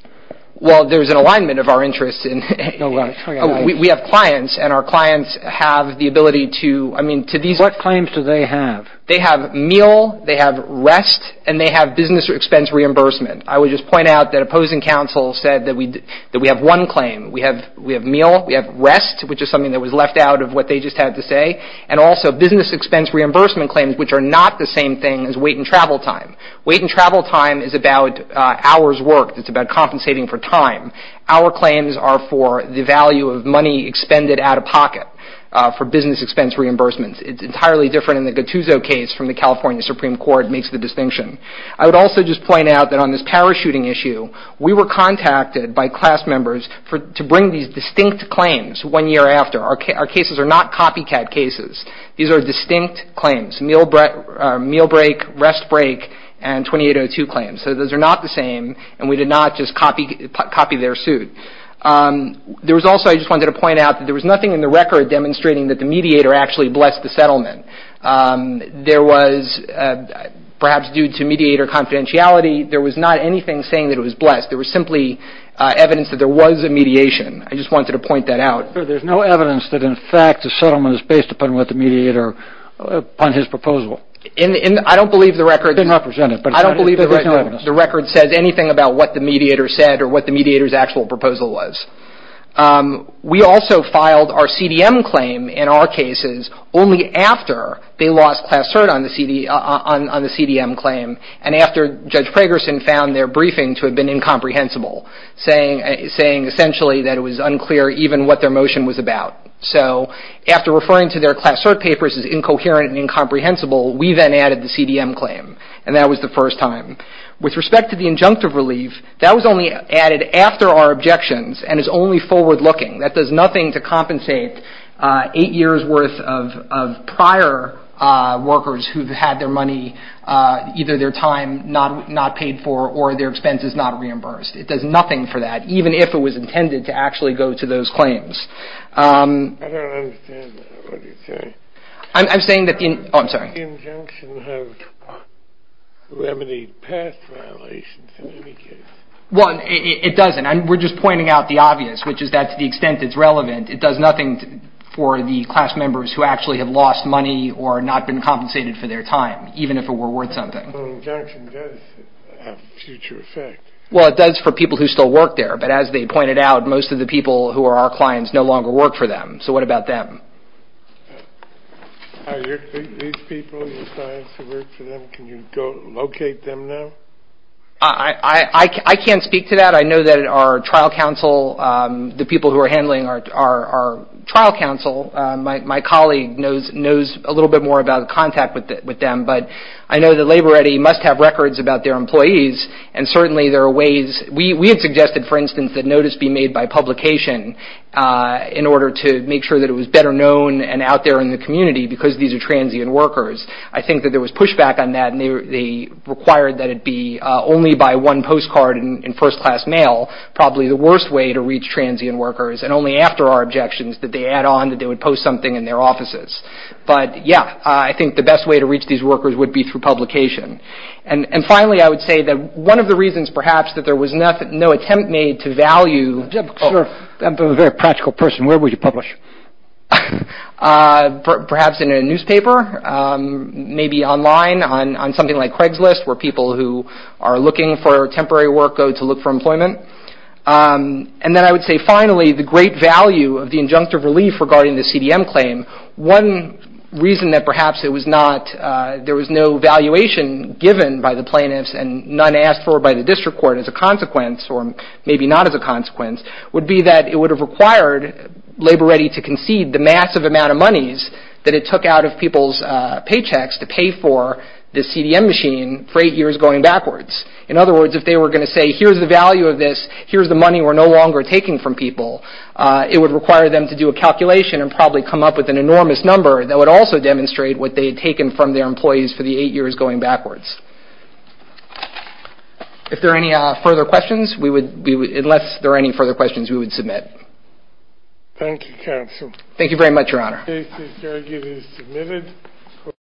Well, there's an alignment of our interests. We have clients and our clients have the ability to, I mean, to these. What claims do they have? They have meal, they have rest, and they have business expense reimbursement. I would just point out that opposing counsel said that we have one claim. We have meal, we have rest, which is something that was left out of what they just had to say, and also business expense reimbursement claims, which are not the same thing as wait and travel time. Wait and travel time is about hours worked. It's about compensating for time. Our claims are for the value of money expended out of pocket for business expense reimbursements. It's entirely different in the Gattuso case from the California Supreme Court makes the distinction. I would also just point out that on this parachuting issue, we were contacted by class members to bring these distinct claims one year after. Our cases are not copycat cases. These are distinct claims, meal break, rest break, and 2802 claims. So those are not the same, and we did not just copy their suit. There was also, I just wanted to point out, that there was nothing in the record demonstrating that the mediator actually blessed the settlement. There was perhaps due to mediator confidentiality, there was not anything saying that it was blessed. There was simply evidence that there was a mediation. I just wanted to point that out. There's no evidence that in fact the settlement is based upon what the mediator, upon his proposal. I don't believe the record says anything about what the mediator said or what the mediator's actual proposal was. We also filed our CDM claim in our cases only after they lost class cert on the CDM claim, and after Judge Pragerson found their briefing to have been incomprehensible, saying essentially that it was unclear even what their motion was about. So after referring to their class cert papers as incoherent and incomprehensible, we then added the CDM claim, and that was the first time. With respect to the injunctive relief, that was only added after our objections and is only forward-looking. That does nothing to compensate eight years' worth of prior workers who've had their money, either their time not paid for or their expenses not reimbursed. It does nothing for that, even if it was intended to actually go to those claims. I don't understand what you're saying. I'm saying that the – oh, I'm sorry. Does the injunction have remedy past violations in any case? Well, it doesn't. We're just pointing out the obvious, which is that to the extent it's relevant, it does nothing for the class members who actually have lost money or not been compensated for their time, even if it were worth something. The injunction does have a future effect. Well, it does for people who still work there, but as they pointed out, most of the people who are our clients no longer work for them. So what about them? These people, your clients who work for them, can you locate them now? I can't speak to that. I know that our trial counsel, the people who are handling our trial counsel, my colleague knows a little bit more about the contact with them, but I know that Labor Ready must have records about their employees, and certainly there are ways – we had suggested, for instance, that notice be made by publication in order to make sure that it was better known and out there in the community because these are transient workers. I think that there was pushback on that, and they required that it be only by one postcard in first-class mail, probably the worst way to reach transient workers, and only after our objections did they add on that they would post something in their offices. But, yeah, I think the best way to reach these workers would be through publication. And finally, I would say that one of the reasons perhaps that there was no attempt made to value – Where would you publish? Perhaps in a newspaper, maybe online on something like Craigslist where people who are looking for temporary work go to look for employment. And then I would say, finally, the great value of the injunctive relief regarding the CDM claim. One reason that perhaps it was not – there was no valuation given by the plaintiffs and none asked for by the district court as a consequence, or maybe not as a consequence, would be that it would have required Labor Ready to concede the massive amount of monies that it took out of people's paychecks to pay for the CDM machine for eight years going backwards. In other words, if they were going to say, here's the value of this, here's the money we're no longer taking from people, it would require them to do a calculation and probably come up with an enormous number that would also demonstrate what they had taken from their employees for the eight years going backwards. If there are any further questions, unless there are any further questions, we would submit. Thank you, counsel. Thank you very much, Your Honor.